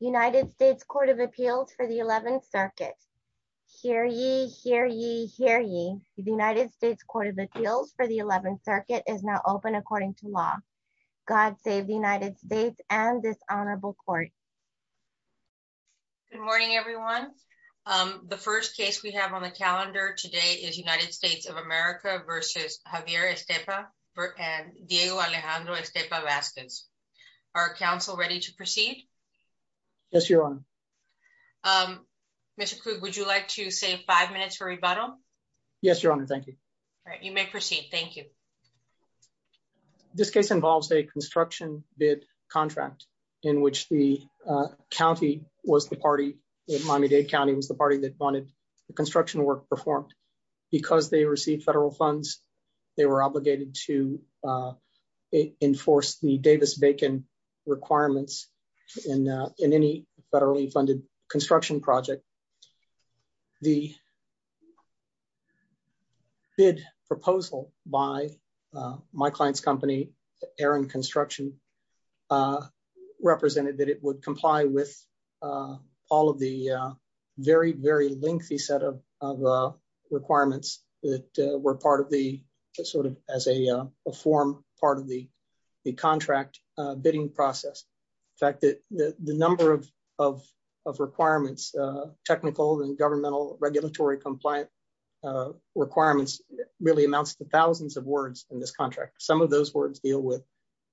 United States Court of Appeals for the 11th Circuit. Hear ye, hear ye, hear ye. The United States Court of Appeals for the 11th Circuit is now open according to law. God save the United States and this honorable court. Good morning everyone. The first case we have on the calendar today is United States of America versus Javier Estepa and Diego Alejandro Estepa Vasquez. Are counsel ready to proceed? Yes, your honor. Mr. Krug, would you like to save five minutes for rebuttal? Yes, your honor. Thank you. All right, you may proceed. Thank you. This case involves a construction bid contract in which the county was the party, Miami-Dade County was the party that wanted the construction work performed. Because they received federal funds, they were obligated to enforce the Davis-Bacon requirements in any federally funded construction project. The bid proposal by my client's company, Aaron Construction, represented that it would comply with all of the very, very lengthy set of requirements that were part of the, sort of, as a form part of the contract bidding process. In fact, the number of requirements, technical and governmental regulatory compliant requirements, really amounts to thousands of words in this contract. Some of those words deal with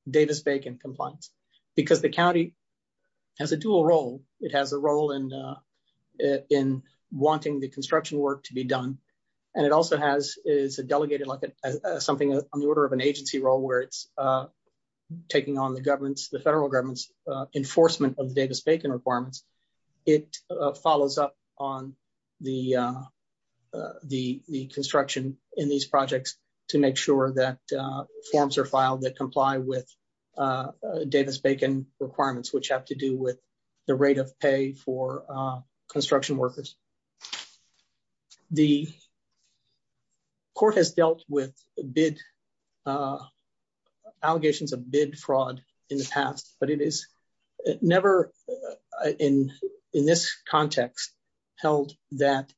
Davis-Bacon compliance. Because the county has a dual role. It has a role in wanting the construction work to be done and it also has is a delegated like something on the order of an agency role where it's taking on the government's, the federal government's enforcement of the Davis-Bacon requirements. It follows up on the construction in these projects to make sure that forms are filed that comply with Davis-Bacon requirements which have to do with the rate of pay for the court has dealt with bid allegations of bid fraud in the past but it is never in in this context held that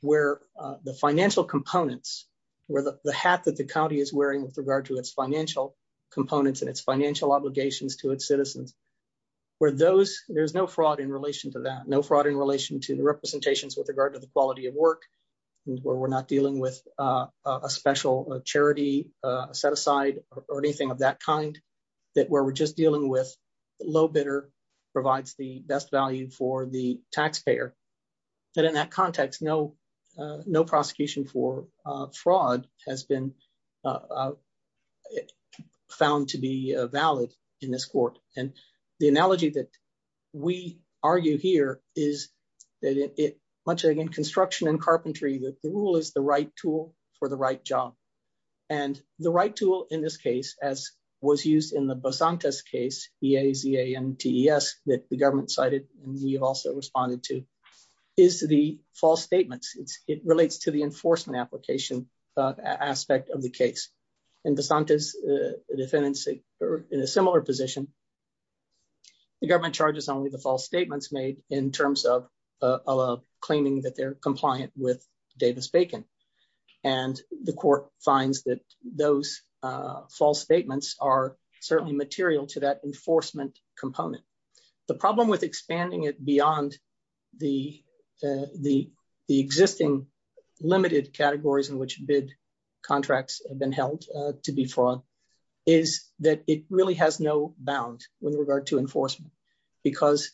where the financial components where the hat that the county is wearing with regard to its financial components and its financial obligations to its citizens where those there's no fraud in relation to that no fraud in relation to the representations with the quality of work where we're not dealing with a special charity set aside or anything of that kind that where we're just dealing with low bidder provides the best value for the taxpayer that in that context no no prosecution for fraud has been found to be valid in this court and the analogy that we argue here is that it much again construction and carpentry that the rule is the right tool for the right job and the right tool in this case as was used in the Basantes case e-a-z-a-n-t-e-s that the government cited and you've also responded to is the false statements it relates to the enforcement application aspect of the case and Basantes defendants in a similar position the government charges only the false statements made in terms of claiming that they're compliant with Davis-Bacon and the court finds that those false statements are certainly material to that enforcement component the problem with expanding it beyond the existing limited categories in which bid contracts have been held to be fraud is that it really has no bound with regard to enforcement because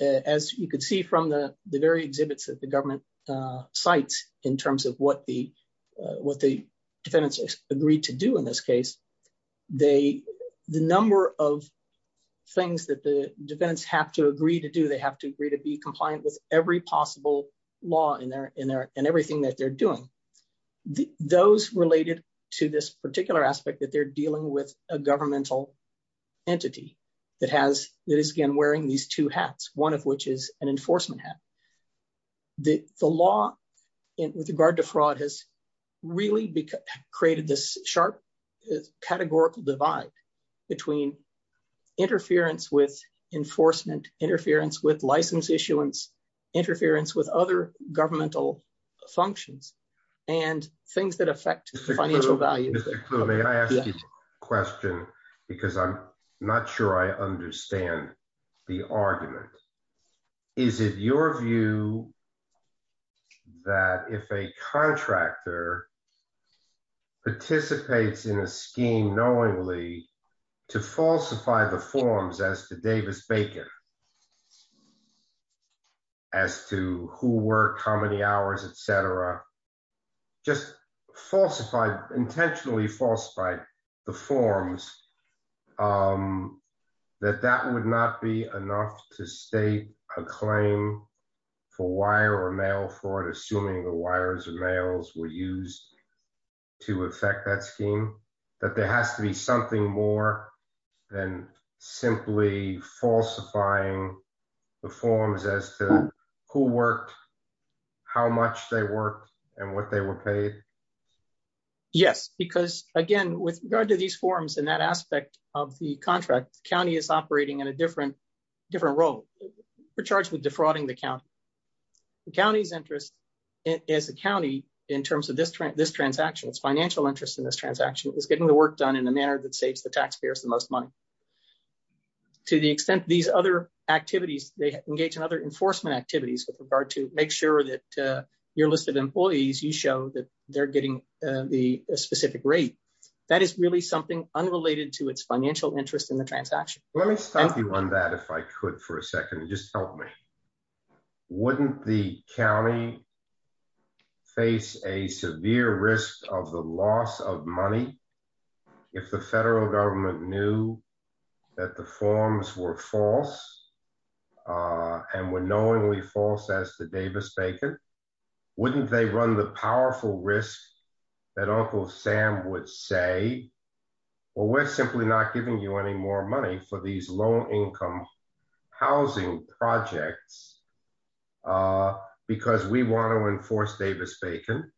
as you could see from the the very exhibits that the government uh cites in terms of what the uh what the defendants agreed to do in this case they the number of things that the defendants have to agree to do they have to agree to be compliant with every possible law in their in their and everything that they're doing those related to this particular aspect that they're dealing with a governmental entity that has that is again wearing these two hats one of which is an enforcement hat the the law in with regard to fraud has really created this sharp categorical divide between interference with enforcement interference with license issuance interference with other governmental functions and things that affect the financial values question because i'm not sure i understand the argument is it your view that if a contractor participates in a scheme knowingly to falsify the forms as to Davis-Bacon scheme as to who worked how many hours etc just falsified intentionally falsified the forms that that would not be enough to state a claim for wire or mail fraud assuming the wires or the forms as to who worked how much they worked and what they were paid yes because again with regard to these forms in that aspect of the contract county is operating in a different different role we're charged with defrauding the county the county's interest is the county in terms of this trend this transaction its financial interest in this transaction is getting the work done in a manner that saves the taxpayers the most money to the extent these other activities they engage in other enforcement activities with regard to make sure that your list of employees you show that they're getting the specific rate that is really something unrelated to its financial interest in the transaction let me stop you on that if i could for a second just help me wouldn't the county face a severe risk of the that the forms were false and were knowingly false as to Davis-Bacon wouldn't they run the powerful risk that Uncle Sam would say well we're simply not giving you any more money for these low-income housing projects because we want to enforce Davis-Bacon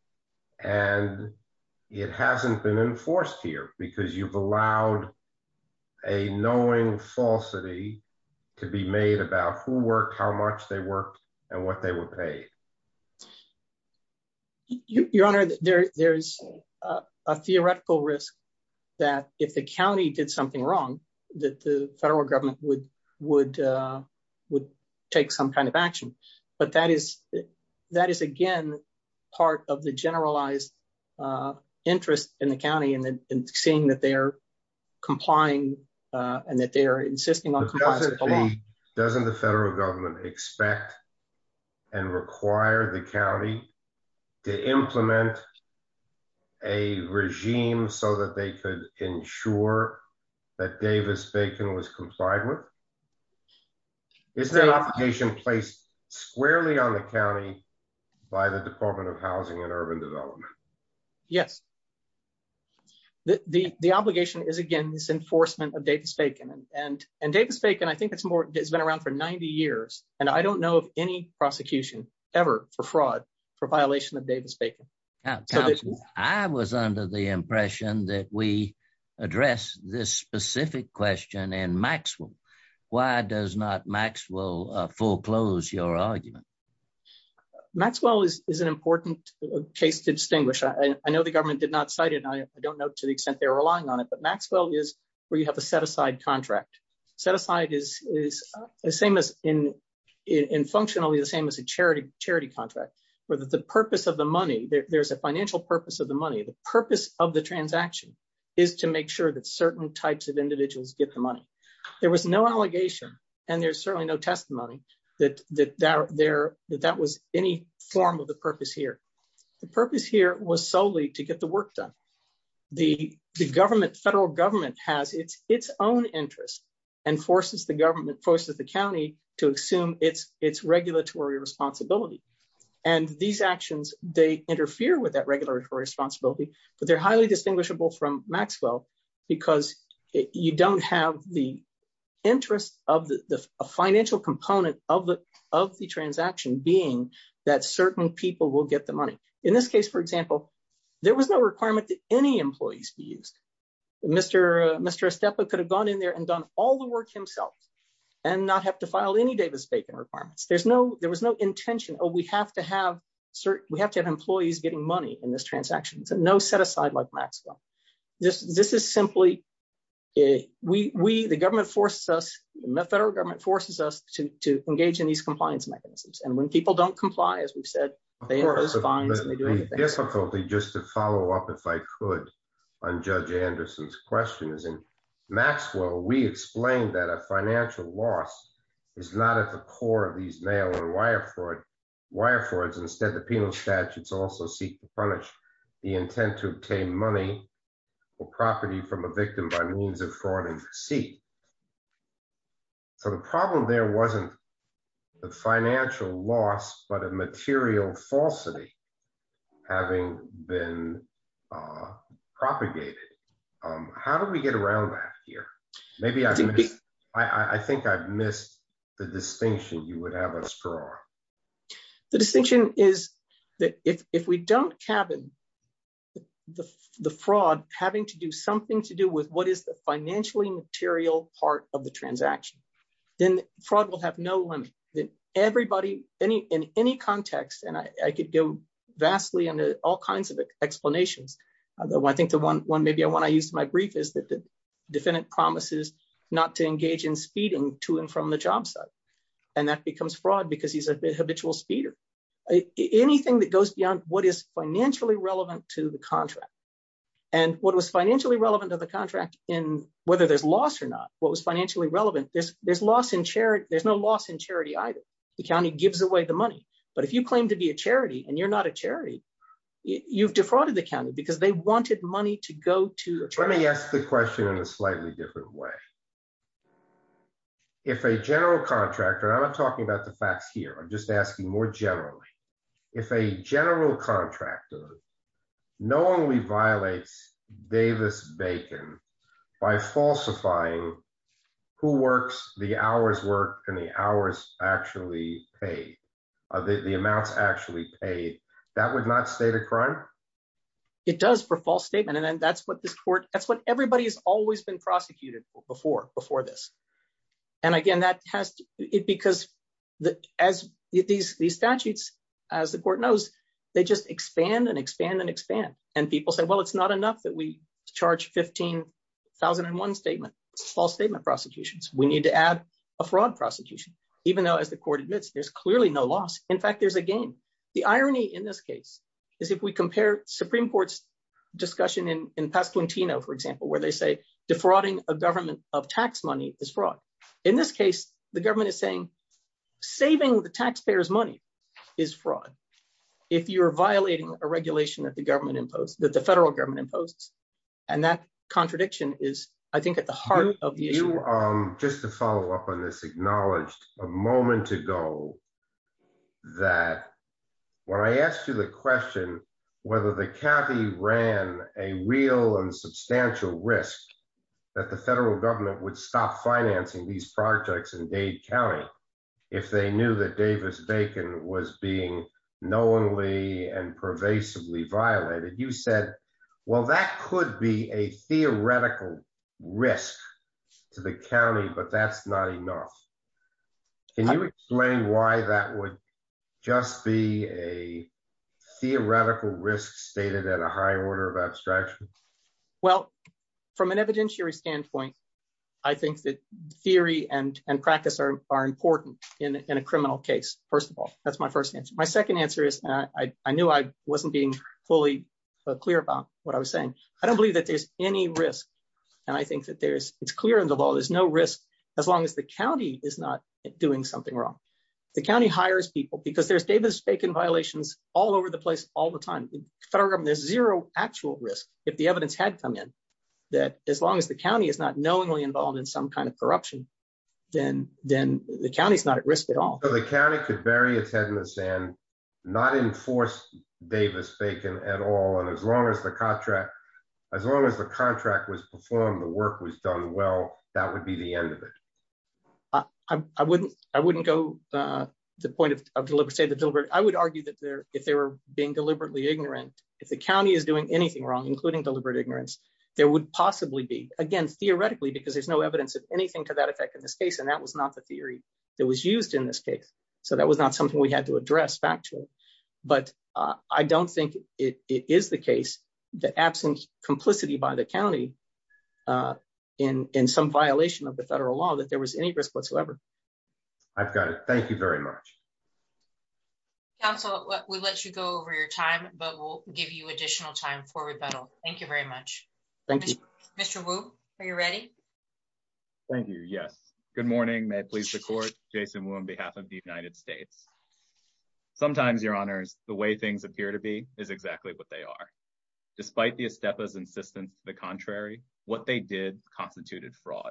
and it hasn't been enforced here because you've allowed a knowing falsity to be made about who worked how much they worked and what they were paid your honor there there's a theoretical risk that if the county did something wrong that the federal government would would would take some kind of action but that is that is again part of the generalized interest in the county and then seeing that they are complying and that they are insisting on doesn't the federal government expect and require the county to implement a regime so that they could ensure that Davis-Bacon was by the department of housing and urban development yes the the obligation is again this enforcement of Davis-Bacon and and Davis-Bacon I think it's more it's been around for 90 years and I don't know of any prosecution ever for fraud for violation of Davis-Bacon I was under the impression that we address this specific question and Maxwell why does not Maxwell foreclose your argument Maxwell is is an important case to distinguish I know the government did not cite it I don't know to the extent they're relying on it but Maxwell is where you have a set-aside contract set aside is is the same as in in functionally the same as a charity charity contract where the purpose of the money there's a financial purpose of the money the purpose of the transaction is to make sure that certain types of individuals get the money there was no allegation and there's certainly no testimony that that there that that was any form of the purpose here the purpose here was solely to get the work done the the government federal government has its its own interest and forces the government forces the county to assume its its regulatory responsibility and these actions they interfere with that regulatory responsibility but they're highly distinguishable from Maxwell because you don't have the interest of the the financial component of the of the transaction being that certain people will get the money in this case for example there was no requirement that any employees be used Mr. Estepa could have gone in there and done all the work himself and not have to file any Davis-Bacon requirements there's no there was no intention oh we have to have certain we have to have employees getting money in this transaction it's a no set aside like Maxwell this this is simply a we we the government forces us the federal government forces us to to engage in these compliance mechanisms and when people don't comply as we've said they impose fines and they do anything. The difficulty just to follow up if I could on Judge Anderson's question is in Maxwell we explained that a financial loss is not at the core of these mail and wire fraud wire frauds instead the penal statutes also seek to punish the intent to obtain money or property from a victim by means of fraud and deceit so the problem there wasn't the financial loss but a material falsity having been propagated um how do we get around that here maybe I think I've missed the distinction you the the fraud having to do something to do with what is the financially material part of the transaction then fraud will have no limit that everybody any in any context and I could go vastly into all kinds of explanations although I think the one one maybe I want to use my brief is that the defendant promises not to engage in speeding to and from the job site and that becomes fraud because he's a habitual speeder anything that goes beyond what is financially relevant to the contract and what was financially relevant to the contract in whether there's loss or not what was financially relevant there's there's loss in charity there's no loss in charity either the county gives away the money but if you claim to be a charity and you're not a charity you've defrauded the county because they wanted money to go to let me ask the question in a slightly different way if a general contractor I'm not talking about the facts here I'm just asking more generally if a general contractor knowingly violates Davis Bacon by falsifying who works the hours work and the hours actually paid the amounts actually paid that would not state a crime it does for false statement and then that's what this court that's what everybody has always been prosecuted before before this and again that has it because the as these these statutes as the court knows they just expand and expand and expand and people say well it's not enough that we charge 15,001 statement false statement prosecutions we need to add a fraud prosecution even though as the court admits there's clearly no loss in fact there's a game the irony in this case is if we a government of tax money is fraud in this case the government is saying saving the taxpayers money is fraud if you're violating a regulation that the government imposed that the federal government imposes and that contradiction is I think at the heart of the issue just to follow up on this acknowledged a moment ago that when I asked you the question whether the county ran a real and that the federal government would stop financing these projects in Dade County if they knew that Davis Bacon was being knowingly and pervasively violated you said well that could be a theoretical risk to the county but that's not enough can you explain why that would just be a theoretical risk stated at a high order of abstraction well from an evidentiary standpoint I think that theory and and practice are are important in a criminal case first of all that's my first answer my second answer is I knew I wasn't being fully clear about what I was saying I don't believe that there's any risk and I think that there's it's clear in the law there's no risk as long as the county is not doing something wrong the county hires people because there's Davis Bacon violations all over the place all the time federal government there's zero actual risk if the evidence had come in that as long as the county is not knowingly involved in some kind of corruption then then the county's not at risk at all so the county could bury its head in the sand not enforce Davis Bacon at all and as long as the contract as long as the contract was performed the work was done well that would be the end of it I wouldn't I wouldn't go uh the point of I would argue that there if they were being deliberately ignorant if the county is doing anything wrong including deliberate ignorance there would possibly be again theoretically because there's no evidence of anything to that effect in this case and that was not the theory that was used in this case so that was not something we had to address factually but I don't think it is the case that absent complicity by the county in in some violation of the federal law that there was any risk whatsoever I've got it thank you very much council we'll let you go over your time but we'll give you additional time for rebuttal thank you very much thank you Mr Wu are you ready thank you yes good morning may I please the court Jason Wu on behalf of the United States sometimes your honors the way things appear to be is exactly what they are despite the Estepa's insistence to the contrary what they did constituted fraud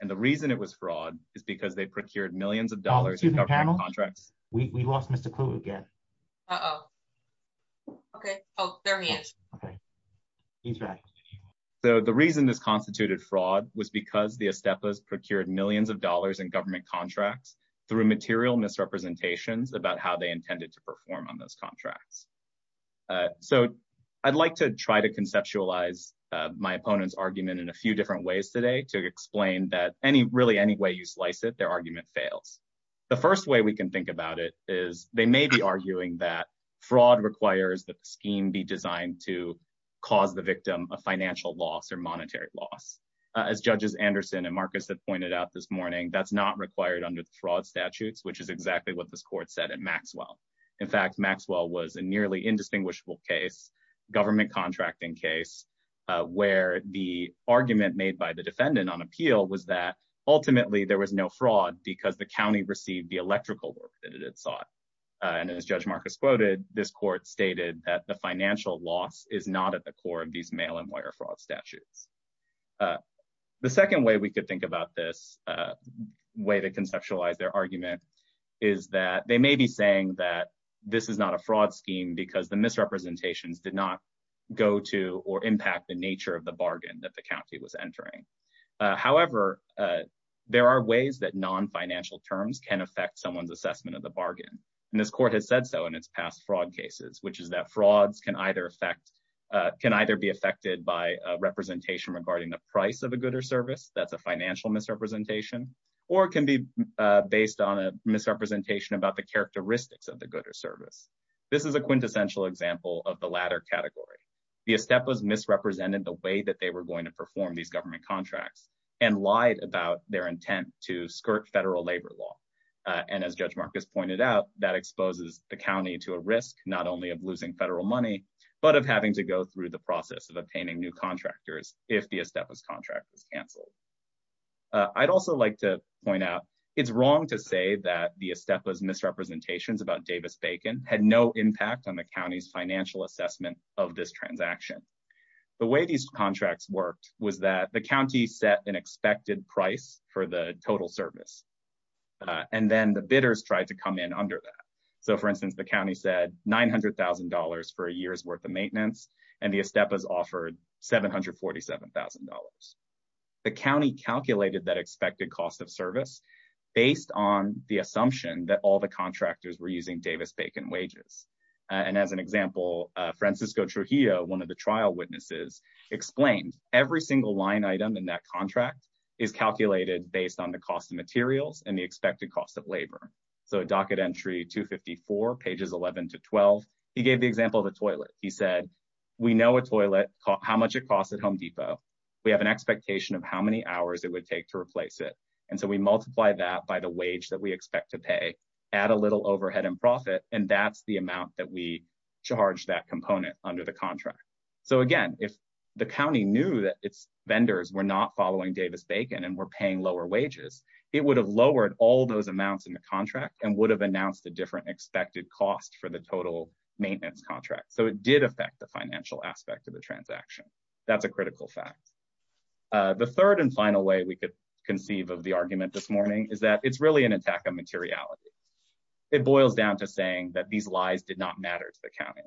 and the reason it was fraud is because they procured millions of dollars in government contracts we lost Mr Kluge again uh-oh okay oh there he is okay he's right so the reason this constituted fraud was because the Estepa's procured millions of dollars in government contracts through material misrepresentations about how they intended to in a few different ways today to explain that any really any way you slice it their argument fails the first way we can think about it is they may be arguing that fraud requires that the scheme be designed to cause the victim a financial loss or monetary loss as judges Anderson and Marcus have pointed out this morning that's not required under the fraud statutes which is exactly what this court said at Maxwell in fact Maxwell was a nearly indistinguishable case government contracting case where the argument made by the defendant on appeal was that ultimately there was no fraud because the county received the electrical work that it had sought and as Judge Marcus quoted this court stated that the financial loss is not at the core of these mail and wire fraud statutes the second way we could think about this way to conceptualize their argument is that they may be that this is not a fraud scheme because the misrepresentations did not go to or impact the nature of the bargain that the county was entering however there are ways that non-financial terms can affect someone's assessment of the bargain and this court has said so in its past fraud cases which is that frauds can either affect can either be affected by representation regarding the price of a good or service that's a financial misrepresentation or it can be based on a misrepresentation about the characteristics of the good or service this is a quintessential example of the latter category the estep was misrepresented the way that they were going to perform these government contracts and lied about their intent to skirt federal labor law and as Judge Marcus pointed out that exposes the county to a risk not only of losing federal money but of having to go through the process of obtaining new contractors if the estep was canceled i'd also like to point out it's wrong to say that the estep was misrepresentations about davis bacon had no impact on the county's financial assessment of this transaction the way these contracts worked was that the county set an expected price for the total service and then the bidders tried to come in under that so for instance the county said nine hundred thousand for a year's worth of maintenance and the estep has offered seven hundred forty seven thousand dollars the county calculated that expected cost of service based on the assumption that all the contractors were using davis bacon wages and as an example francisco trujillo one of the trial witnesses explained every single line item in that contract is calculated based on the cost of he said we know a toilet how much it costs at home depot we have an expectation of how many hours it would take to replace it and so we multiply that by the wage that we expect to pay add a little overhead and profit and that's the amount that we charge that component under the contract so again if the county knew that its vendors were not following davis bacon and were paying lower wages it would have lowered all those amounts in the contract and would have announced a different expected cost for the total maintenance contract so it did affect the financial aspect of the transaction that's a critical fact the third and final way we could conceive of the argument this morning is that it's really an attack on materiality it boils down to saying that these lies did not matter to the county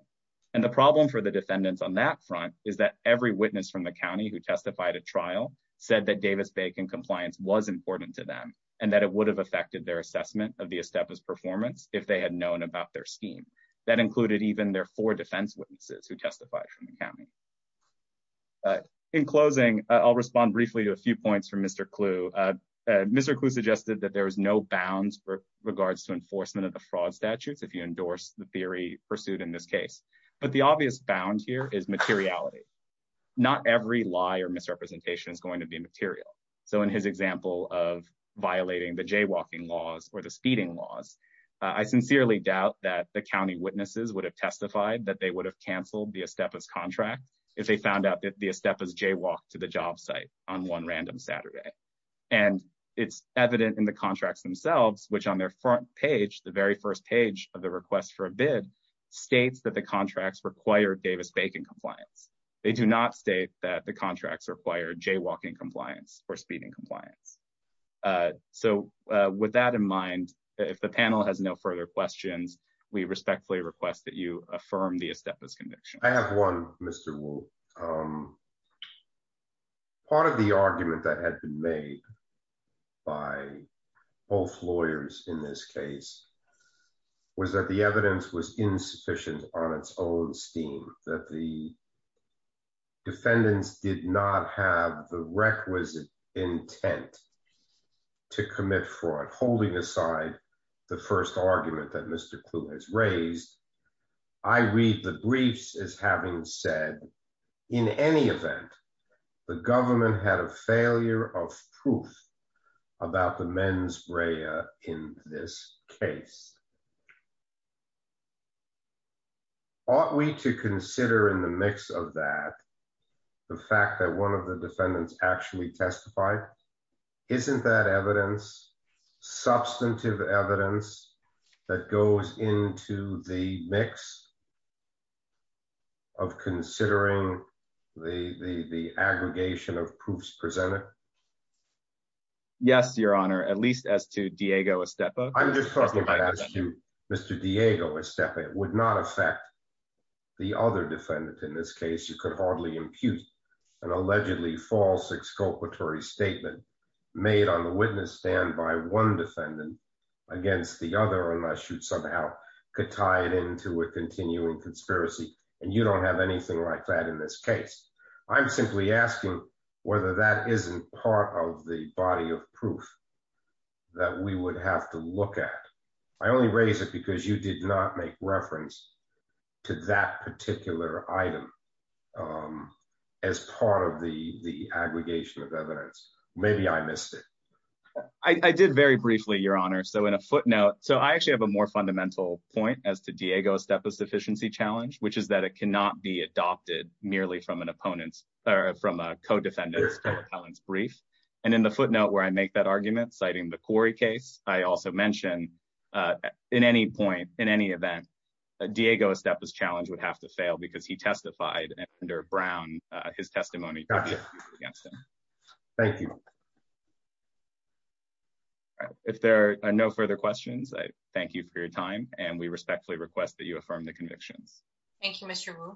and the problem for the defendants on that front is that every witness from the county who testified at trial said that davis bacon compliance was important to them and that it would have affected their assessment of the estepa's performance if they had known about their scheme that included even their four defense witnesses who testified from the county in closing i'll respond briefly to a few points from mr clue uh mr clue suggested that there was no bounds for regards to enforcement of the fraud statutes if you endorse the theory pursued in this case but the obvious bound here is materiality not every lie or misrepresentation going to be material so in his example of violating the jaywalking laws or the speeding laws i sincerely doubt that the county witnesses would have testified that they would have canceled the estepa's contract if they found out that the estepa's jaywalked to the job site on one random saturday and it's evident in the contracts themselves which on their front page the very first page of the request for a bid states that the contracts require davis bacon compliance they do not state that the contracts require jaywalking compliance or speeding compliance so with that in mind if the panel has no further questions we respectfully request that you affirm the estepa's conviction i have one mr wolf um part of the argument that had been made by both lawyers in this case was that the evidence was insufficient on its own steam that the defendants did not have the requisite intent to commit fraud holding aside the first argument that mr clue has raised i read the briefs as having said in any event the government had a failure of proof about the mens rea in this case ought we to consider in the mix of that the fact that one of the defendants actually testified isn't that evidence substantive evidence that goes into the mix of considering the the the aggregation of proofs presented yes your honor at least as to diego estepa i'm just talking about as to mr diego estepa it would not affect the other defendant in this case you could hardly impute an allegedly false exculpatory statement made on the witness stand by one defendant against the other unless you somehow could tie it into a continuing conspiracy and you don't have anything like that in this case i'm simply asking whether that isn't part of the body of proof that we would have to look at i only raise it because you did not make reference to that particular item as part of the the aggregation of evidence maybe i missed it i i did very briefly your honor so in a footnote so i actually have a more fundamental point as to diego estepa's from a co-defendant's brief and in the footnote where i make that argument citing the corey case i also mention uh in any point in any event diego estepa's challenge would have to fail because he testified under brown uh his testimony against him thank you if there are no further questions i thank you for your time and we respectfully request that you affirm the convictions thank you mr wu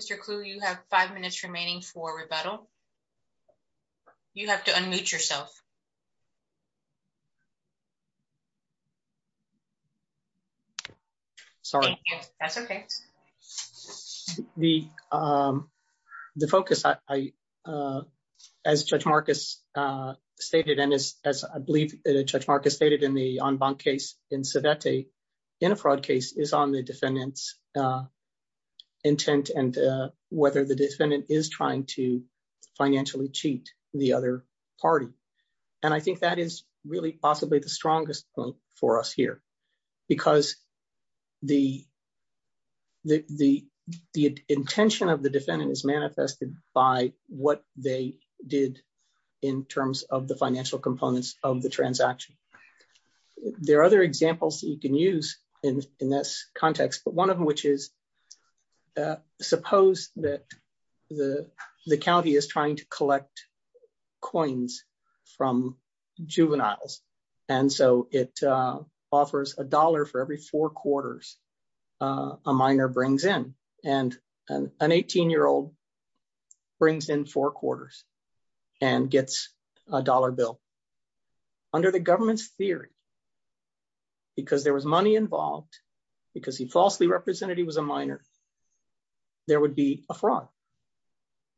mr clue you have five minutes remaining for rebuttal you have to unmute yourself sorry that's okay the um the focus i i uh as judge marcus uh stated and as as i believe judge marcus stated in the en banc case in civetti in a fraud case is on the defendant's uh intent and uh whether the defendant is trying to financially cheat the other party and i think that is really possibly the strongest point for us here because the the the the intention of the transaction there are other examples that you can use in in this context but one of which is suppose that the the county is trying to collect coins from juveniles and so it uh offers a dollar for every four quarters uh a minor brings in and an 18 year old brings in four quarters and gets a dollar bill under the government's theory because there was money involved because he falsely represented he was a minor there would be a fraud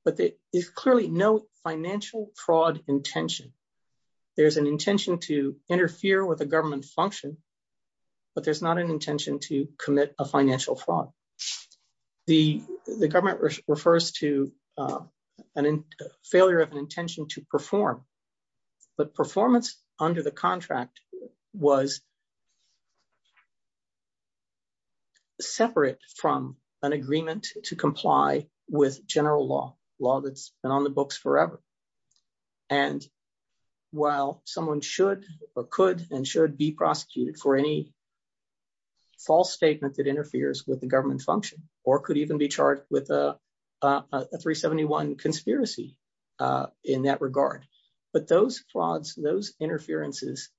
but there is clearly no financial fraud intention there's an intention to interfere with the government function but there's not an failure of an intention to perform but performance under the contract was separate from an agreement to comply with general law law that's been on the books forever and while someone should or could and should be prosecuted for any false statement that interferes with the government function or could even be charged with a a 371 conspiracy in that regard but those frauds those interferences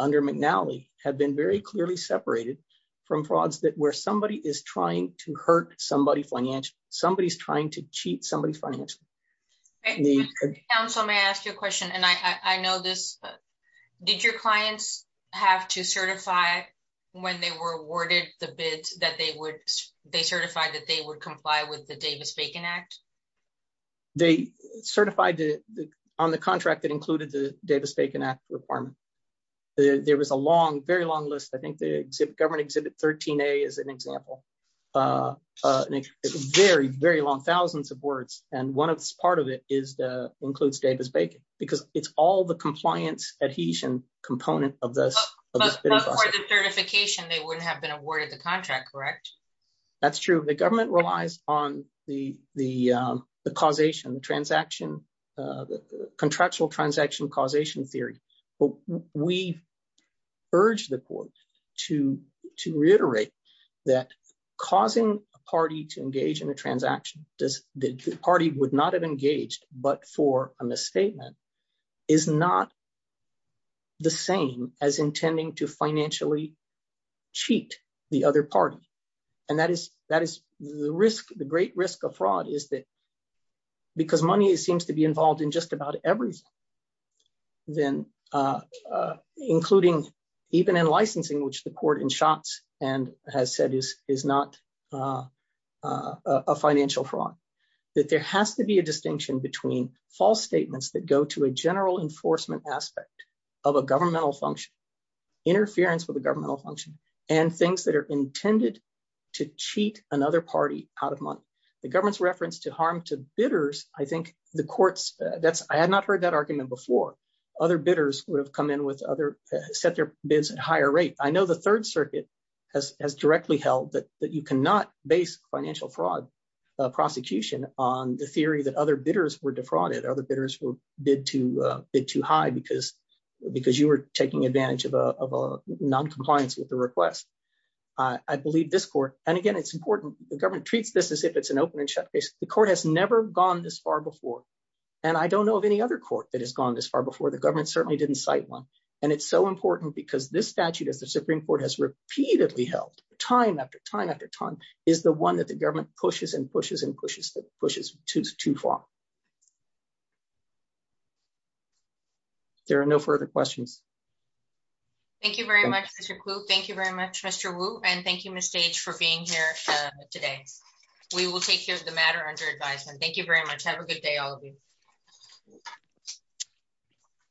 under McNally have been very clearly separated from frauds that where somebody is trying to hurt somebody financially somebody's trying to cheat somebody financially the council may ask you a question and i i know this did your clients have to certify when they were awarded the bids that they would they certified that would comply with the Davis-Bacon Act they certified the on the contract that included the Davis-Bacon Act requirement there was a long very long list I think the government exhibit 13a is an example uh very very long thousands of words and one of this part of it is the includes Davis-Bacon because it's all the compliance adhesion component of this certification they wouldn't have been awarded the contract correct that's true the government relies on the the um the causation the transaction uh the contractual transaction causation theory but we urge the court to to reiterate that causing a party to engage in a transaction does the party would not have engaged but for a misstatement is not the same as intending to financially cheat the other party and that is that is the risk the great risk of fraud is that because money seems to be involved in just about everything then uh including even in licensing which the court in shots and has said is not uh uh a financial fraud that there has to be a distinction between false statements that go to a general enforcement aspect of a governmental function interference with the governmental function and things that are intended to cheat another party out of money the government's reference to harm to bidders I think the courts that's I had not heard that argument before other bidders would have come in with other set their bids at higher rate I know the third circuit has has directly held that that you cannot base financial fraud prosecution on the theory that other bidders were defrauded other bidders were bid to bid too high because because you were taking advantage of a non-compliance with the request I believe this court and again it's important the government treats this as if it's an open and shut case the court has never gone this far before and I don't know of any other court that has gone this far before the government certainly didn't cite one and it's so important because this statute as the supreme court has repeatedly held time after time after time is the one that the government pushes and pushes and pushes that pushes too far there are no further questions thank you very much thank you very much Mr. Wu and thank you Ms. Stage for being here today we will take care of the matter under thank you